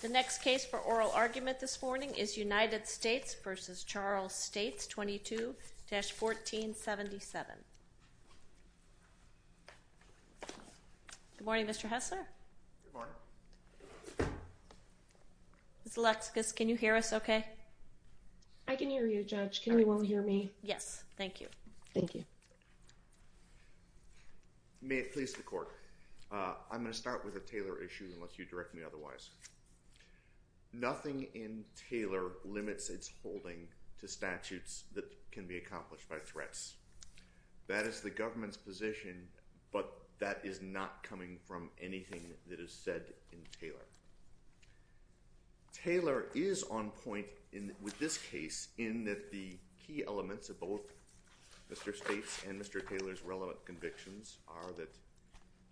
22-1477. Good morning, Mr. Hessler. Good morning. Ms. Lexkus, can you hear us okay? I can hear you, Judge. Can everyone hear me? Yes. Thank you. Thank you. May it please the Court. I'm going to start with a Taylor issue, unless you direct me otherwise. Nothing in Taylor limits its holding to statutes that can be accomplished by threats. That is the government's position, but that is not coming from anything that is said in Taylor. Taylor is on point in this case in that the key elements of both Mr. States and Mr. Taylor's relevant convictions are that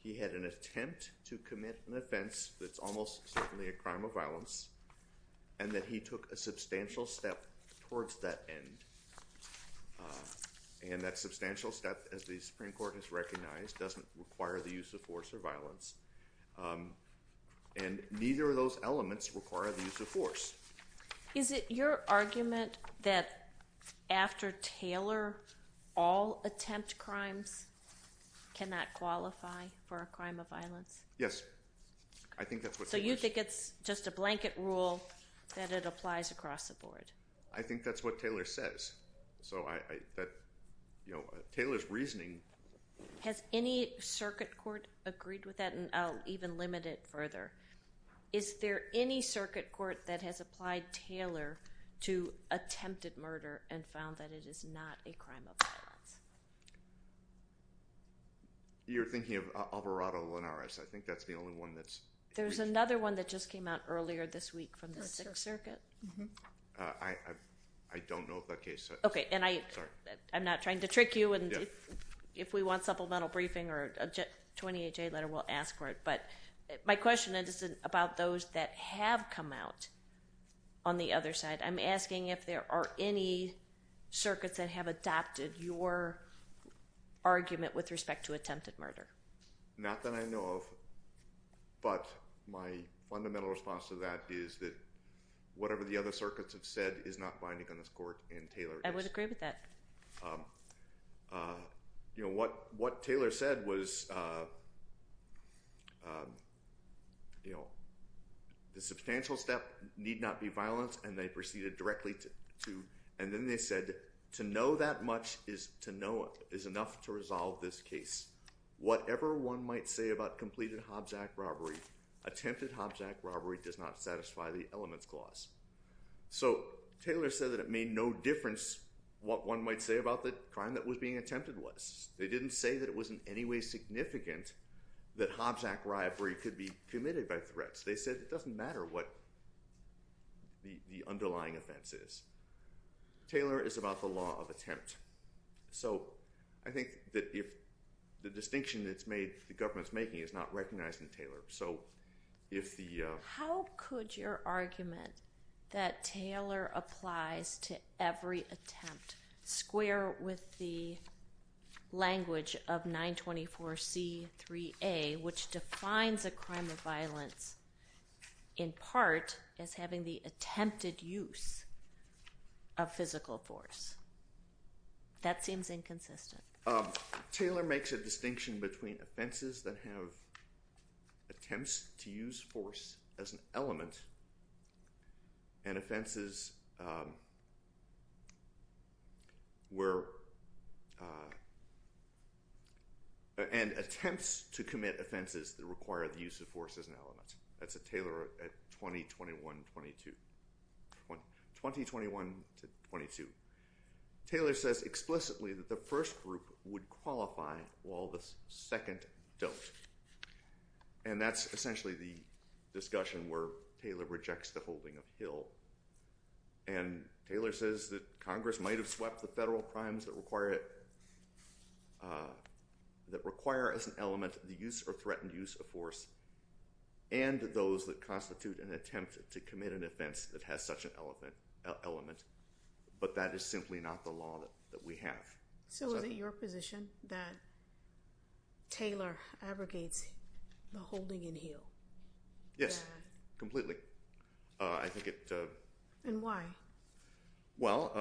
he had an attempt to commit an offense that's almost certainly a crime of violence and that he took a substantial step towards that end. And that substantial step, as the Supreme Court has recognized, doesn't require the use of force or violence. And neither of those elements require the use of force. Is it your argument that after Taylor, all attempt crimes cannot qualify for a crime of violence? Yes. So you think it's just a blanket rule that it applies across the board? I think that's what Taylor says. Taylor's reasoning... Has any circuit court agreed with that? And I'll even limit it further. Is there any circuit court that has applied Taylor to attempted murder and found that it is not a crime of violence? You're thinking of Alvarado-Linares. I think that's the only one that's... There's another one that just came out earlier this week from the 6th Circuit. I don't know what that case is. Okay. And I'm not trying to trick you. And if we want supplemental briefing or a 28-J letter, we'll ask for it. But my question is about those that have come out on the other side. I'm asking if there are any circuits that have adopted your argument with respect to attempted murder. Not that I know of. But my fundamental response to that is that whatever the other circuits have said is not binding on this case. The substantial step need not be violence. And they proceeded directly to... And then they said to know that much is enough to resolve this case. Whatever one might say about completed Hobbs Act robbery, attempted Hobbs Act robbery does not satisfy the elements clause. So Taylor said that it made no difference what one might say about the crime that was being attempted was. They didn't say that it was in any way significant that Hobbs Act robbery could be committed. It doesn't matter what the underlying offense is. Taylor is about the law of attempt. So I think that if the distinction that the government's making is not recognized in Taylor. So if the... How could your argument that Taylor applies to every attempt square with the language of 924C3A, which defines a crime of violence in part as having the attempted use of physical force. That seems inconsistent. Taylor makes a distinction between offenses that have attempts to use force as an element and offenses where... And attempts to commit offenses that require the use of force as an element. That's a Taylor at 20, 21, 22. 20, 21 to 22. Taylor says explicitly that the first group would qualify while the second don't. And that's essentially the discussion where Taylor rejects the holding of Hill. And Taylor says that Congress might have swept the federal crimes that require as an element the use or threatened use of force and those that constitute an attempt to commit an offense that has such an element. But that is simply not the law that we have. So is it your position that Taylor abrogates the holding in Hill? Yes, completely. I think it... And why? Well,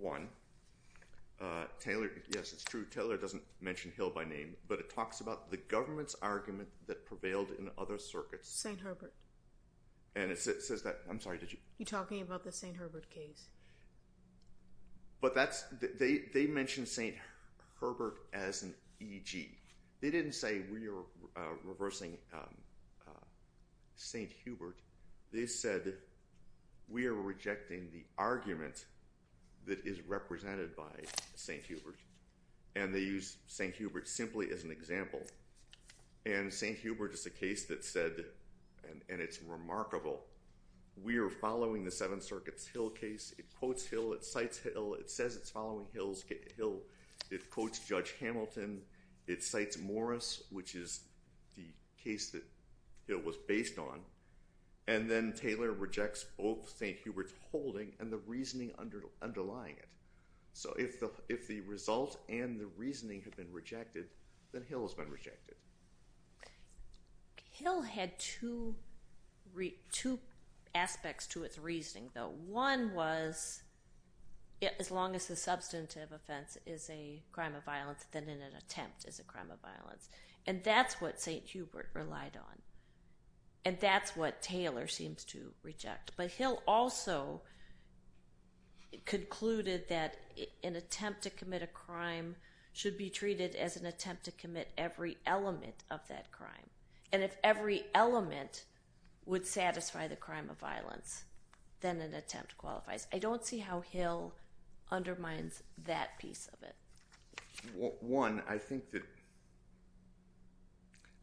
one, Taylor... Yes, it's true. Taylor doesn't mention Hill by name, but it talks about the government's argument that prevailed in other circuits. St. Herbert. And it says that... I'm sorry, did you... You're talking about the St. Herbert case. But that's... They mentioned St. Herbert as an EG. They didn't say, we are reversing St. Hubert. They said, we are rejecting the argument that is represented by St. Hubert. And they use St. Hubert simply as an example. And St. Hubert is a case that said, and it's remarkable, we are following the Seventh Circuit's Hill case. It quotes Hill, it cites Hill, it says it's following Hill, it quotes Judge Hamilton, it cites Morris, which is the case that Hill was based on. And then Taylor rejects both St. Hubert's holding and the reasoning underlying it. So if the result and the reasoning have been rejected, then Hill has been rejected. Hill had two aspects to its reasoning, though. One was, as long as the substantive offense is a crime of violence, then an attempt is a crime of violence. And that's what St. Hubert relied on. And that's what Taylor seems to reject. But Hill also concluded that an attempt to commit a crime should be treated as an attempt to commit every element of that crime. And if every element would satisfy the crime of violence, then an attempt qualifies. I don't see how Hill undermines that piece of it. One, I think that...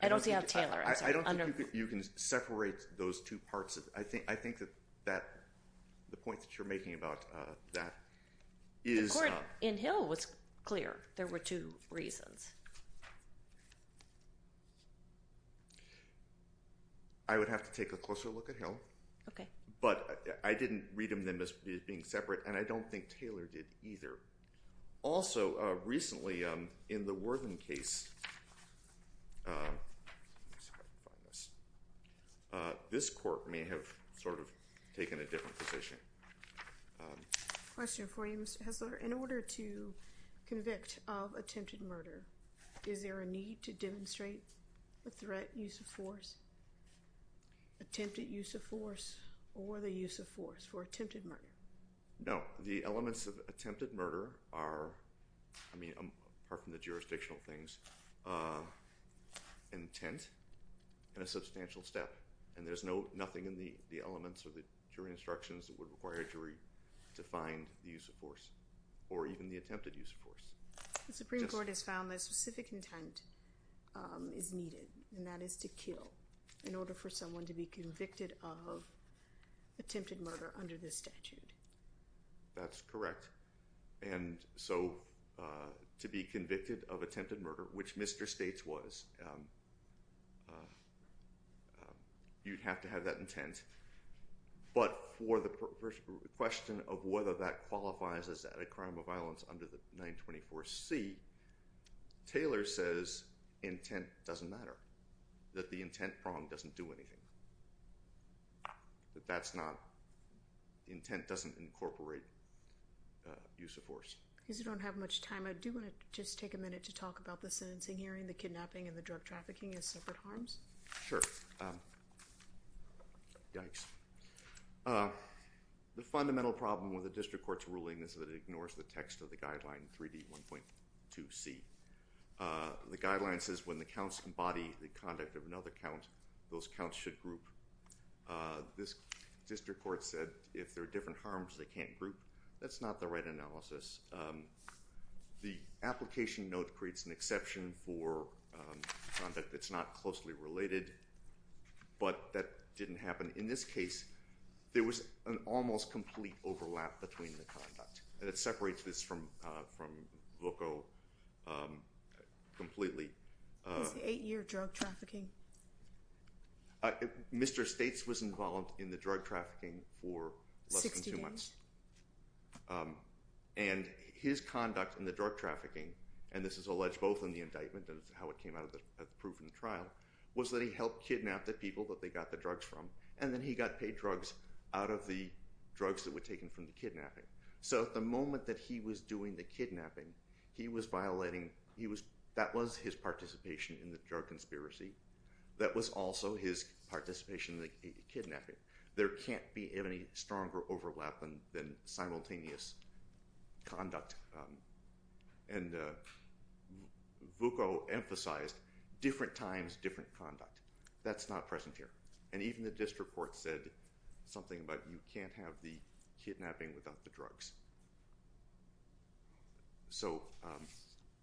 I don't see how Taylor... I don't think you can separate those two parts. I think that the point that you're making about that is... In Hill, it was clear there were two reasons. I would have to take a closer look at Hill. Okay. But I didn't read them as being separate, and I don't think Taylor did either. Also, recently, in the Worthing case, this court may have sort of taken a different position. Question for you, Mr. Hessler. In order to convict of attempted murder, is there a need to demonstrate a threat, use of force? Attempted use of force or the use of force for attempted murder? No. The elements of attempted murder are, I mean, apart from the jurisdictional things, intent and a substantial step. And there's nothing in the elements or the jury instructions that would require a jury to find the use of force or even the attempted use of force. The Supreme Court has found that specific intent is needed, and that is to kill in order for someone to be convicted of attempted murder under this statute. That's correct. And so to be convicted of attempted murder, which Mr. States was, you'd have to have that intent. But for the question of whether that qualifies as added crime of violence under the 924C, Taylor says intent doesn't matter, that the intent prong doesn't do anything. The intent doesn't incorporate use of force. Because we don't have much time, I do want to just take a minute to talk about the sentencing hearing, the kidnapping, and the drug trafficking as separate harms. Sure. Yikes. The fundamental problem with the district court's ruling is that it ignores the text of the guideline 3D1.2C. The guideline says when the counts embody the conduct of another count, those counts should group. This district court said if there are different harms, they can't group. That's not the right analysis. The application note creates an exception for conduct that's not closely related. But that didn't happen in this case. There was an almost complete overlap between the conduct. And it separates this from VOCO completely. Is the eight-year drug trafficking? Mr. States was involved in the drug trafficking for less than two months. 60 days. And his conduct in the drug trafficking, and this is alleged both in the indictment and how it came out of the proven trial, was that he helped kidnap the people that they got the drugs from. And then he got paid drugs out of the drugs that were taken from the kidnapping. So at the moment that he was doing the kidnapping, he was violating, that was his participation in the drug conspiracy. That was also his participation in the kidnapping. There can't be any stronger overlap than simultaneous conduct. And VOCO emphasized different times, different conduct. That's not present here. And even the district court said something about you can't have the kidnapping without the drugs.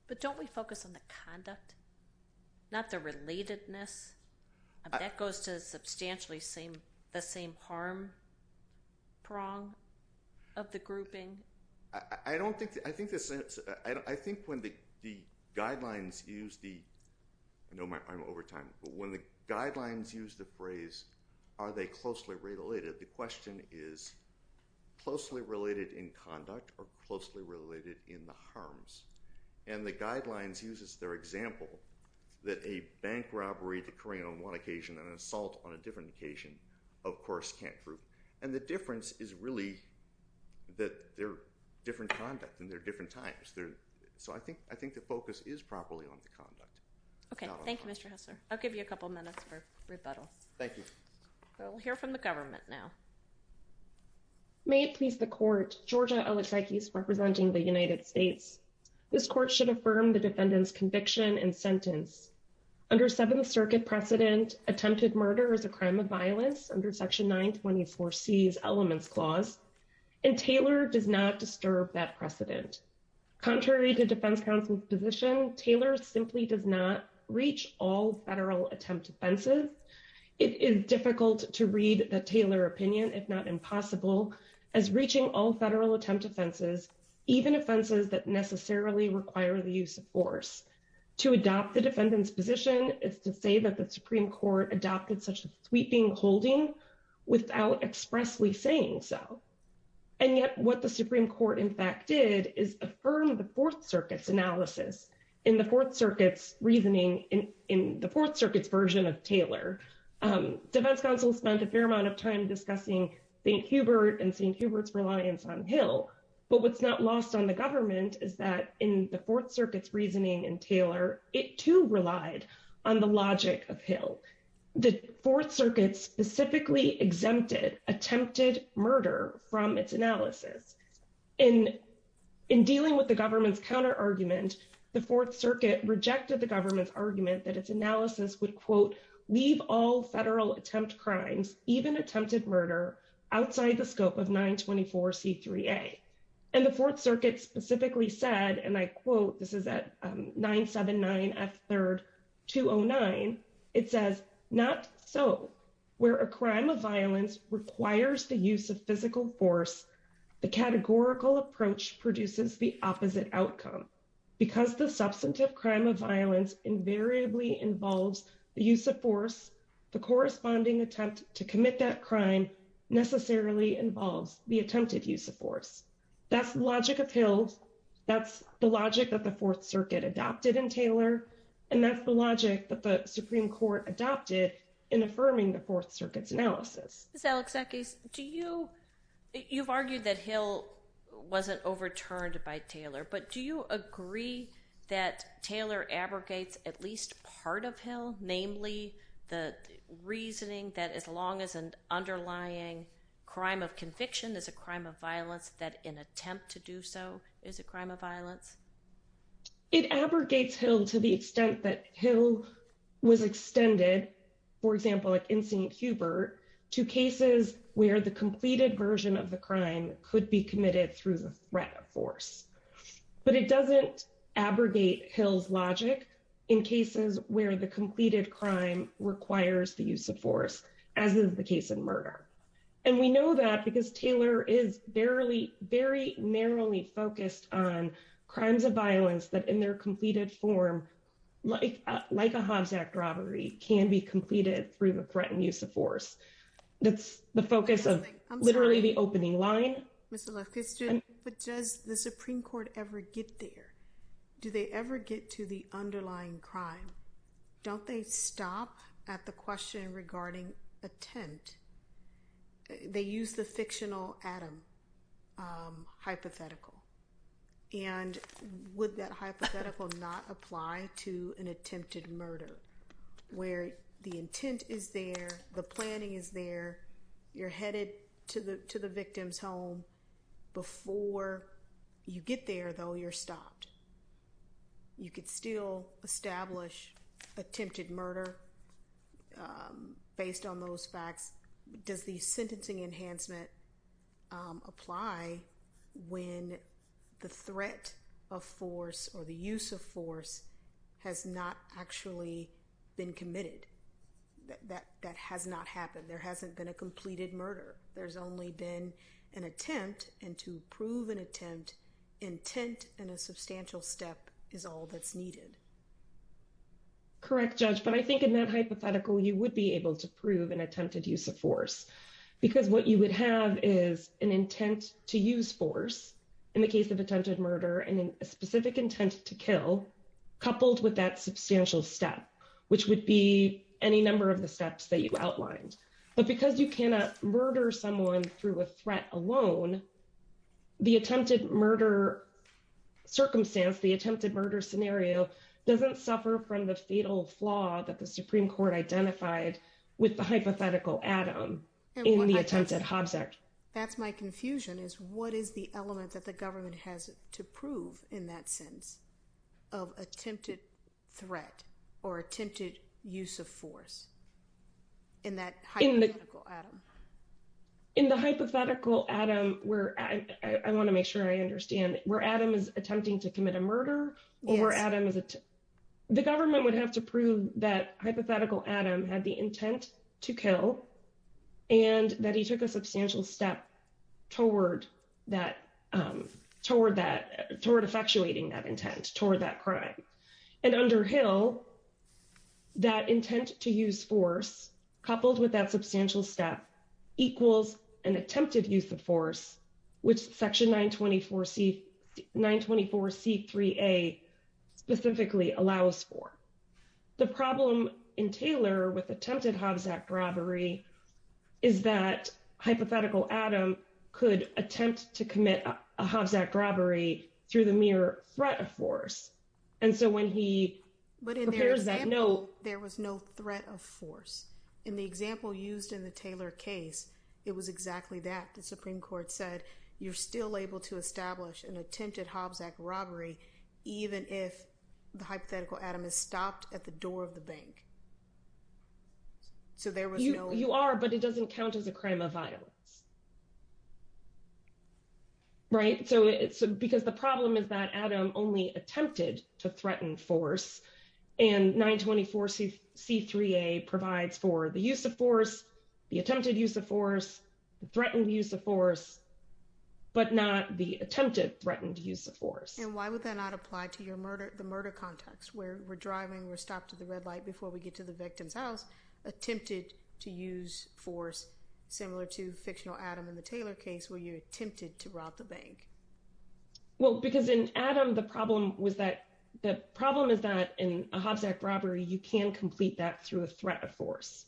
But don't we focus on the conduct, not the relatedness? That goes to substantially the same harm prong of the grouping. I think when the guidelines use the phrase, are they closely related, the question is closely related in conduct or closely related in the harms. And the guidelines uses their assault on a different occasion, of course can't prove. And the difference is really that they're different conduct and they're different times. So I think the focus is properly on the conduct. Okay. Thank you, Mr. Hesler. I'll give you a couple minutes for rebuttal. Thank you. We'll hear from the government now. May it please the court, Georgia Oetzeikes representing the United States. This court should affirm the defendant's conviction and sentence. Under seventh circuit precedent, attempted murder is a crime of violence under section 924 C's elements clause. And Taylor does not disturb that precedent. Contrary to defense counsel's position, Taylor simply does not reach all federal attempt offenses. It is difficult to read the Taylor opinion if not impossible as reaching all federal attempt offenses, even offenses that necessarily require the use of force. To adopt the defendant's position is to say that the Supreme Court adopted such a sweeping holding without expressly saying so. And yet what the Supreme Court in fact did is affirm the fourth circuit's analysis in the fourth circuit's reasoning in the fourth circuit's version of Taylor. Defense counsel spent a fair amount of time discussing St. Hubert and St. Hubert's reliance on Hill. But what's not lost on the government is that in the fourth circuit's reasoning in Taylor, it too relied on the logic of Hill. The fourth circuit specifically exempted attempted murder from its analysis. In dealing with the government's counter argument, the fourth circuit rejected the government's argument that its analysis would, quote, leave all federal attempt crimes, even attempted murder outside the scope of 924C3A. And the fourth circuit specifically said, and I quote, this is at 979F3rd 209, it says, not so. Where a crime of violence requires the use of physical force, the categorical approach produces the opposite outcome. Because the substantive crime of violence invariably involves the use of force, the corresponding attempt to necessarily involves the attempted use of force. That's the logic of Hill, that's the logic that the fourth circuit adopted in Taylor, and that's the logic that the Supreme Court adopted in affirming the fourth circuit's analysis. Ms. Alexakis, do you, you've argued that Hill wasn't overturned by Taylor, but do you agree that Taylor abrogates at least part of Hill, namely the reasoning that as long as an underlying crime of conviction is a crime of violence, that an attempt to do so is a crime of violence? It abrogates Hill to the extent that Hill was extended, for example, like in St. Hubert, to cases where the completed version of the crime could be committed through the threat of force. But it doesn't abrogate Hill's logic in cases where the completed crime requires the use of force, as is the case in murder. And we know that because Taylor is barely, very narrowly focused on crimes of violence that in their completed form, like a Hobbs Act robbery, can be completed through the threat and use of force. That's the focus of literally the opening line. Ms. Alexakis, does the Supreme Court ever get there? Do they ever get to the underlying crime? Don't they stop at the question regarding attempt? They use the fictional Adam hypothetical. And would that hypothetical not apply to an attempted murder, where the intent is there, the planning is there, you're headed to the victim's home. Before you get there, though, you're stopped. You could still establish attempted murder based on those facts. Does the sentencing enhancement apply when the threat of force or the use of force has not actually been committed? That has not happened. There hasn't been a completed murder. There's only been an attempt. And to prove an attempt, intent and a substantial step is all that's needed. Correct, Judge. But I think in that hypothetical, you would be able to prove an attempted use of force. Because what you would have is an intent to use force in the case of attempted murder and a specific intent to kill, coupled with that substantial step, which would be any number of the steps that you outlined. But because you cannot murder someone through a threat alone, the attempted murder circumstance, the attempted murder scenario, doesn't suffer from the fatal flaw that the Supreme Court identified with the hypothetical Adam in the That's my confusion, is what is the element that the government has to prove in that sense of attempted threat or attempted use of force in that hypothetical Adam? In the hypothetical Adam, where I want to make sure I understand, where Adam is attempting to commit a murder or where Adam is... The government would have to prove that hypothetical Adam had the intent to kill and that he took a substantial step toward that, toward that, toward effectuating that intent, toward that crime. And under Hill, that intent to use force, coupled with that substantial step, equals an attempted use of force, which Section 924C3A specifically allows for. The problem in Taylor with attempted Hovzack robbery is that hypothetical Adam could attempt to commit a Hovzack robbery through the mere threat of force. And so when he prepares that note... But in their example, there was no threat of force. In the example used in the Taylor case, it was exactly that. The Supreme Court said you're still able to establish an attempted Hovzack robbery even if the hypothetical Adam is stopped at the door of the bank. So there was no... You are, but it doesn't count as a crime of violence. Right? So it's because the problem is that Adam only attempted to threaten force and 924C3A provides for the use of force, the attempted use of force, the threatened use of force, but not the attempted threatened use of force. And why would that not apply to your murder, the murder context where we're driving, we're stopped at the red light before we get to the victim's house, attempted to use force, similar to fictional Adam in the Taylor case where you attempted to rob the bank. Well, because in Adam, the problem was that, the problem is that in a Hovzack robbery, you can complete that through a threat of force,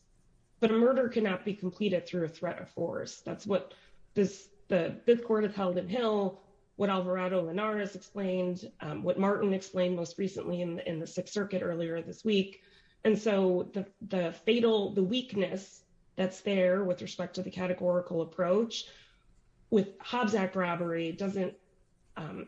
but a murder cannot be completed through a threat of force. That's what the Fifth Court of Helden Hill, what Alvarado Linares explained, what Martin explained most recently in the Sixth Circuit earlier this week. And so the fatal, the weakness that's there with respect to the categorical approach with Hovzack robbery doesn't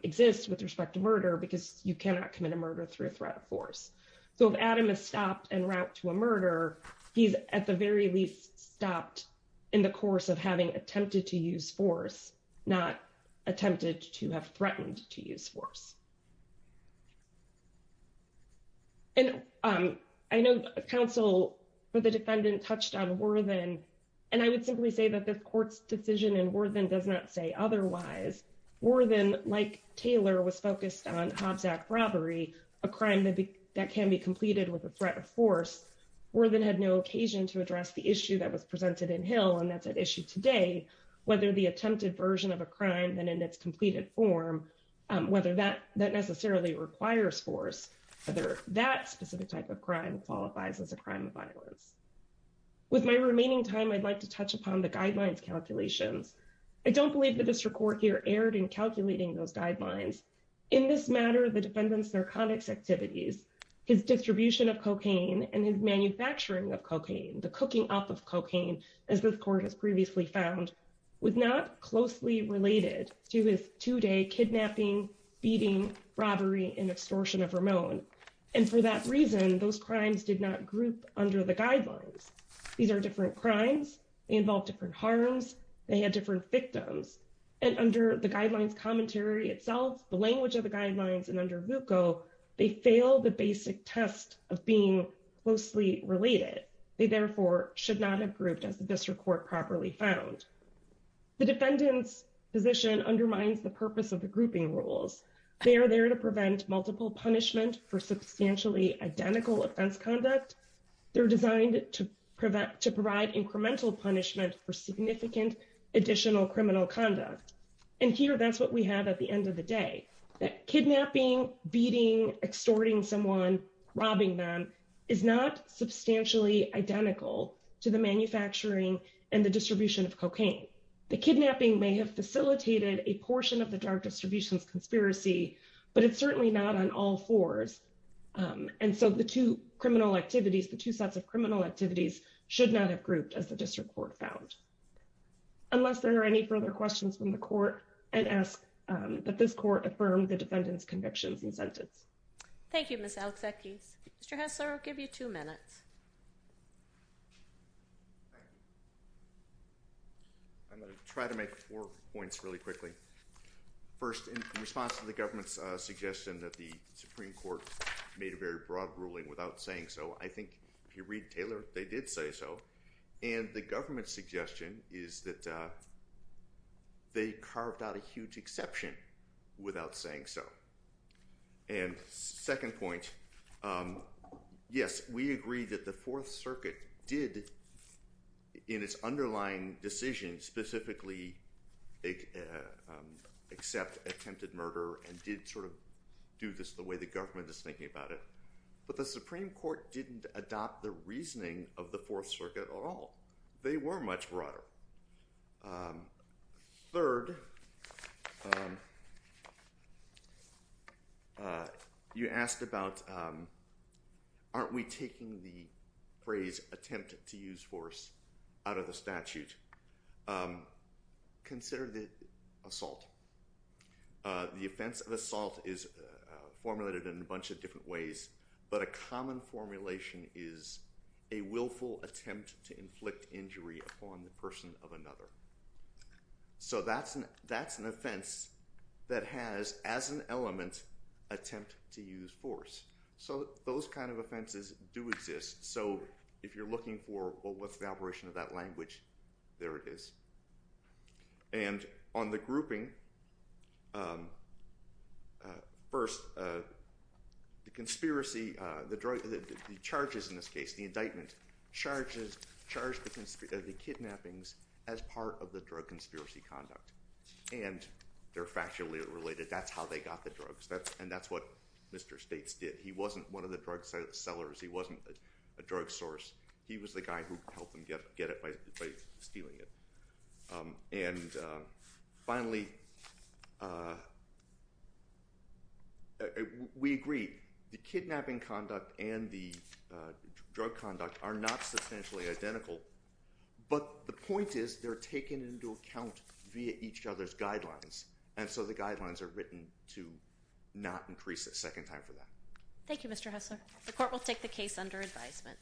exist with respect to murder because you cannot commit a murder through a threat of force. So if Adam is stopped en route to a murder, he's at the very least stopped in the course of having attempted to use force, not attempted to have threatened to use force. And I know counsel for the defendant touched on Worthen, and I would simply say that the court's decision in Worthen does not say otherwise. Worthen, like Taylor, was focused on a crime that can be completed with a threat of force. Worthen had no occasion to address the issue that was presented in Hill, and that's at issue today, whether the attempted version of a crime, then in its completed form, whether that necessarily requires force, whether that specific type of crime qualifies as a crime of violence. With my remaining time, I'd like to touch upon the guidelines calculations. I don't believe that Mr. Corkier erred in calculating those guidelines. In this matter, the defendant's narcotics activities, his distribution of cocaine, and his manufacturing of cocaine, the cooking up of cocaine, as this court has previously found, was not closely related to his two-day kidnapping, beating, robbery, and extortion of Ramon. And for that reason, those crimes did not group under the guidelines. These are different crimes. They involve different harms. They had different victims. And under the guidelines commentary itself, the language of the guidelines, and under VUCO, they fail the basic test of being closely related. They therefore should not have grouped as the district court properly found. The defendant's position undermines the purpose of the grouping rules. They are there to prevent multiple punishment for substantially identical offense conduct. They're designed to provide incremental punishment for significant additional criminal conduct. And here, that's what we have at the end of the day. Kidnapping, beating, extorting someone, robbing them, is not substantially identical to the manufacturing and the distribution of cocaine. The kidnapping may have been a part of the group, but it's not a part of the group. And so, the two criminal activities, the two sets of criminal activities, should not have grouped as the district court found. Unless there are any further questions from the court, I'd ask that this court affirm the defendant's convictions and sentence. Thank you, Ms. Alexakis. Mr. Hessler, I'll give you two minutes. I'm going to try to make four points really quickly. First, in response to the government's suggestion that the Supreme Court made a very broad ruling without saying so, I think if you read Taylor, they did say so. And the government's suggestion is that they carved out a huge exception without saying so. And second point, yes, we agree that the Fourth Circuit did, in its underlying decision, specifically accept attempted murder and did sort of do this the way the government is thinking about it. But the Supreme Court didn't adopt the reasoning of the Fourth Circuit at all. They were much broader. Third, you asked about, aren't we taking the phrase attempt to use force out of the statute? Consider the assault. The offense of assault is formulated in a bunch of different ways, but a common formulation is a willful attempt to inflict injury upon the person of another. So that's an offense that has, as an element, attempt to use force. So those kind of offenses do exist. So if you're looking for, well, what's the operation of that language, there it is. And on the grouping, first, the conspiracy, the charges in this case, the indictment, charges the kidnappings as part of the drug conspiracy conduct. And they're factually related. That's how they got the drugs. And that's what Mr. States did. He wasn't one of the drug sellers. He wasn't a drug source. He was the guy who helped them get it by stealing it. And finally, we agree, the kidnapping conduct and the drug conduct are not substantially identical, but the point is they're taken into account via each other's guidelines. And so the guidelines are written to not increase the second time for that. Thank you, Mr. Hessler. The court will take the case under advisement.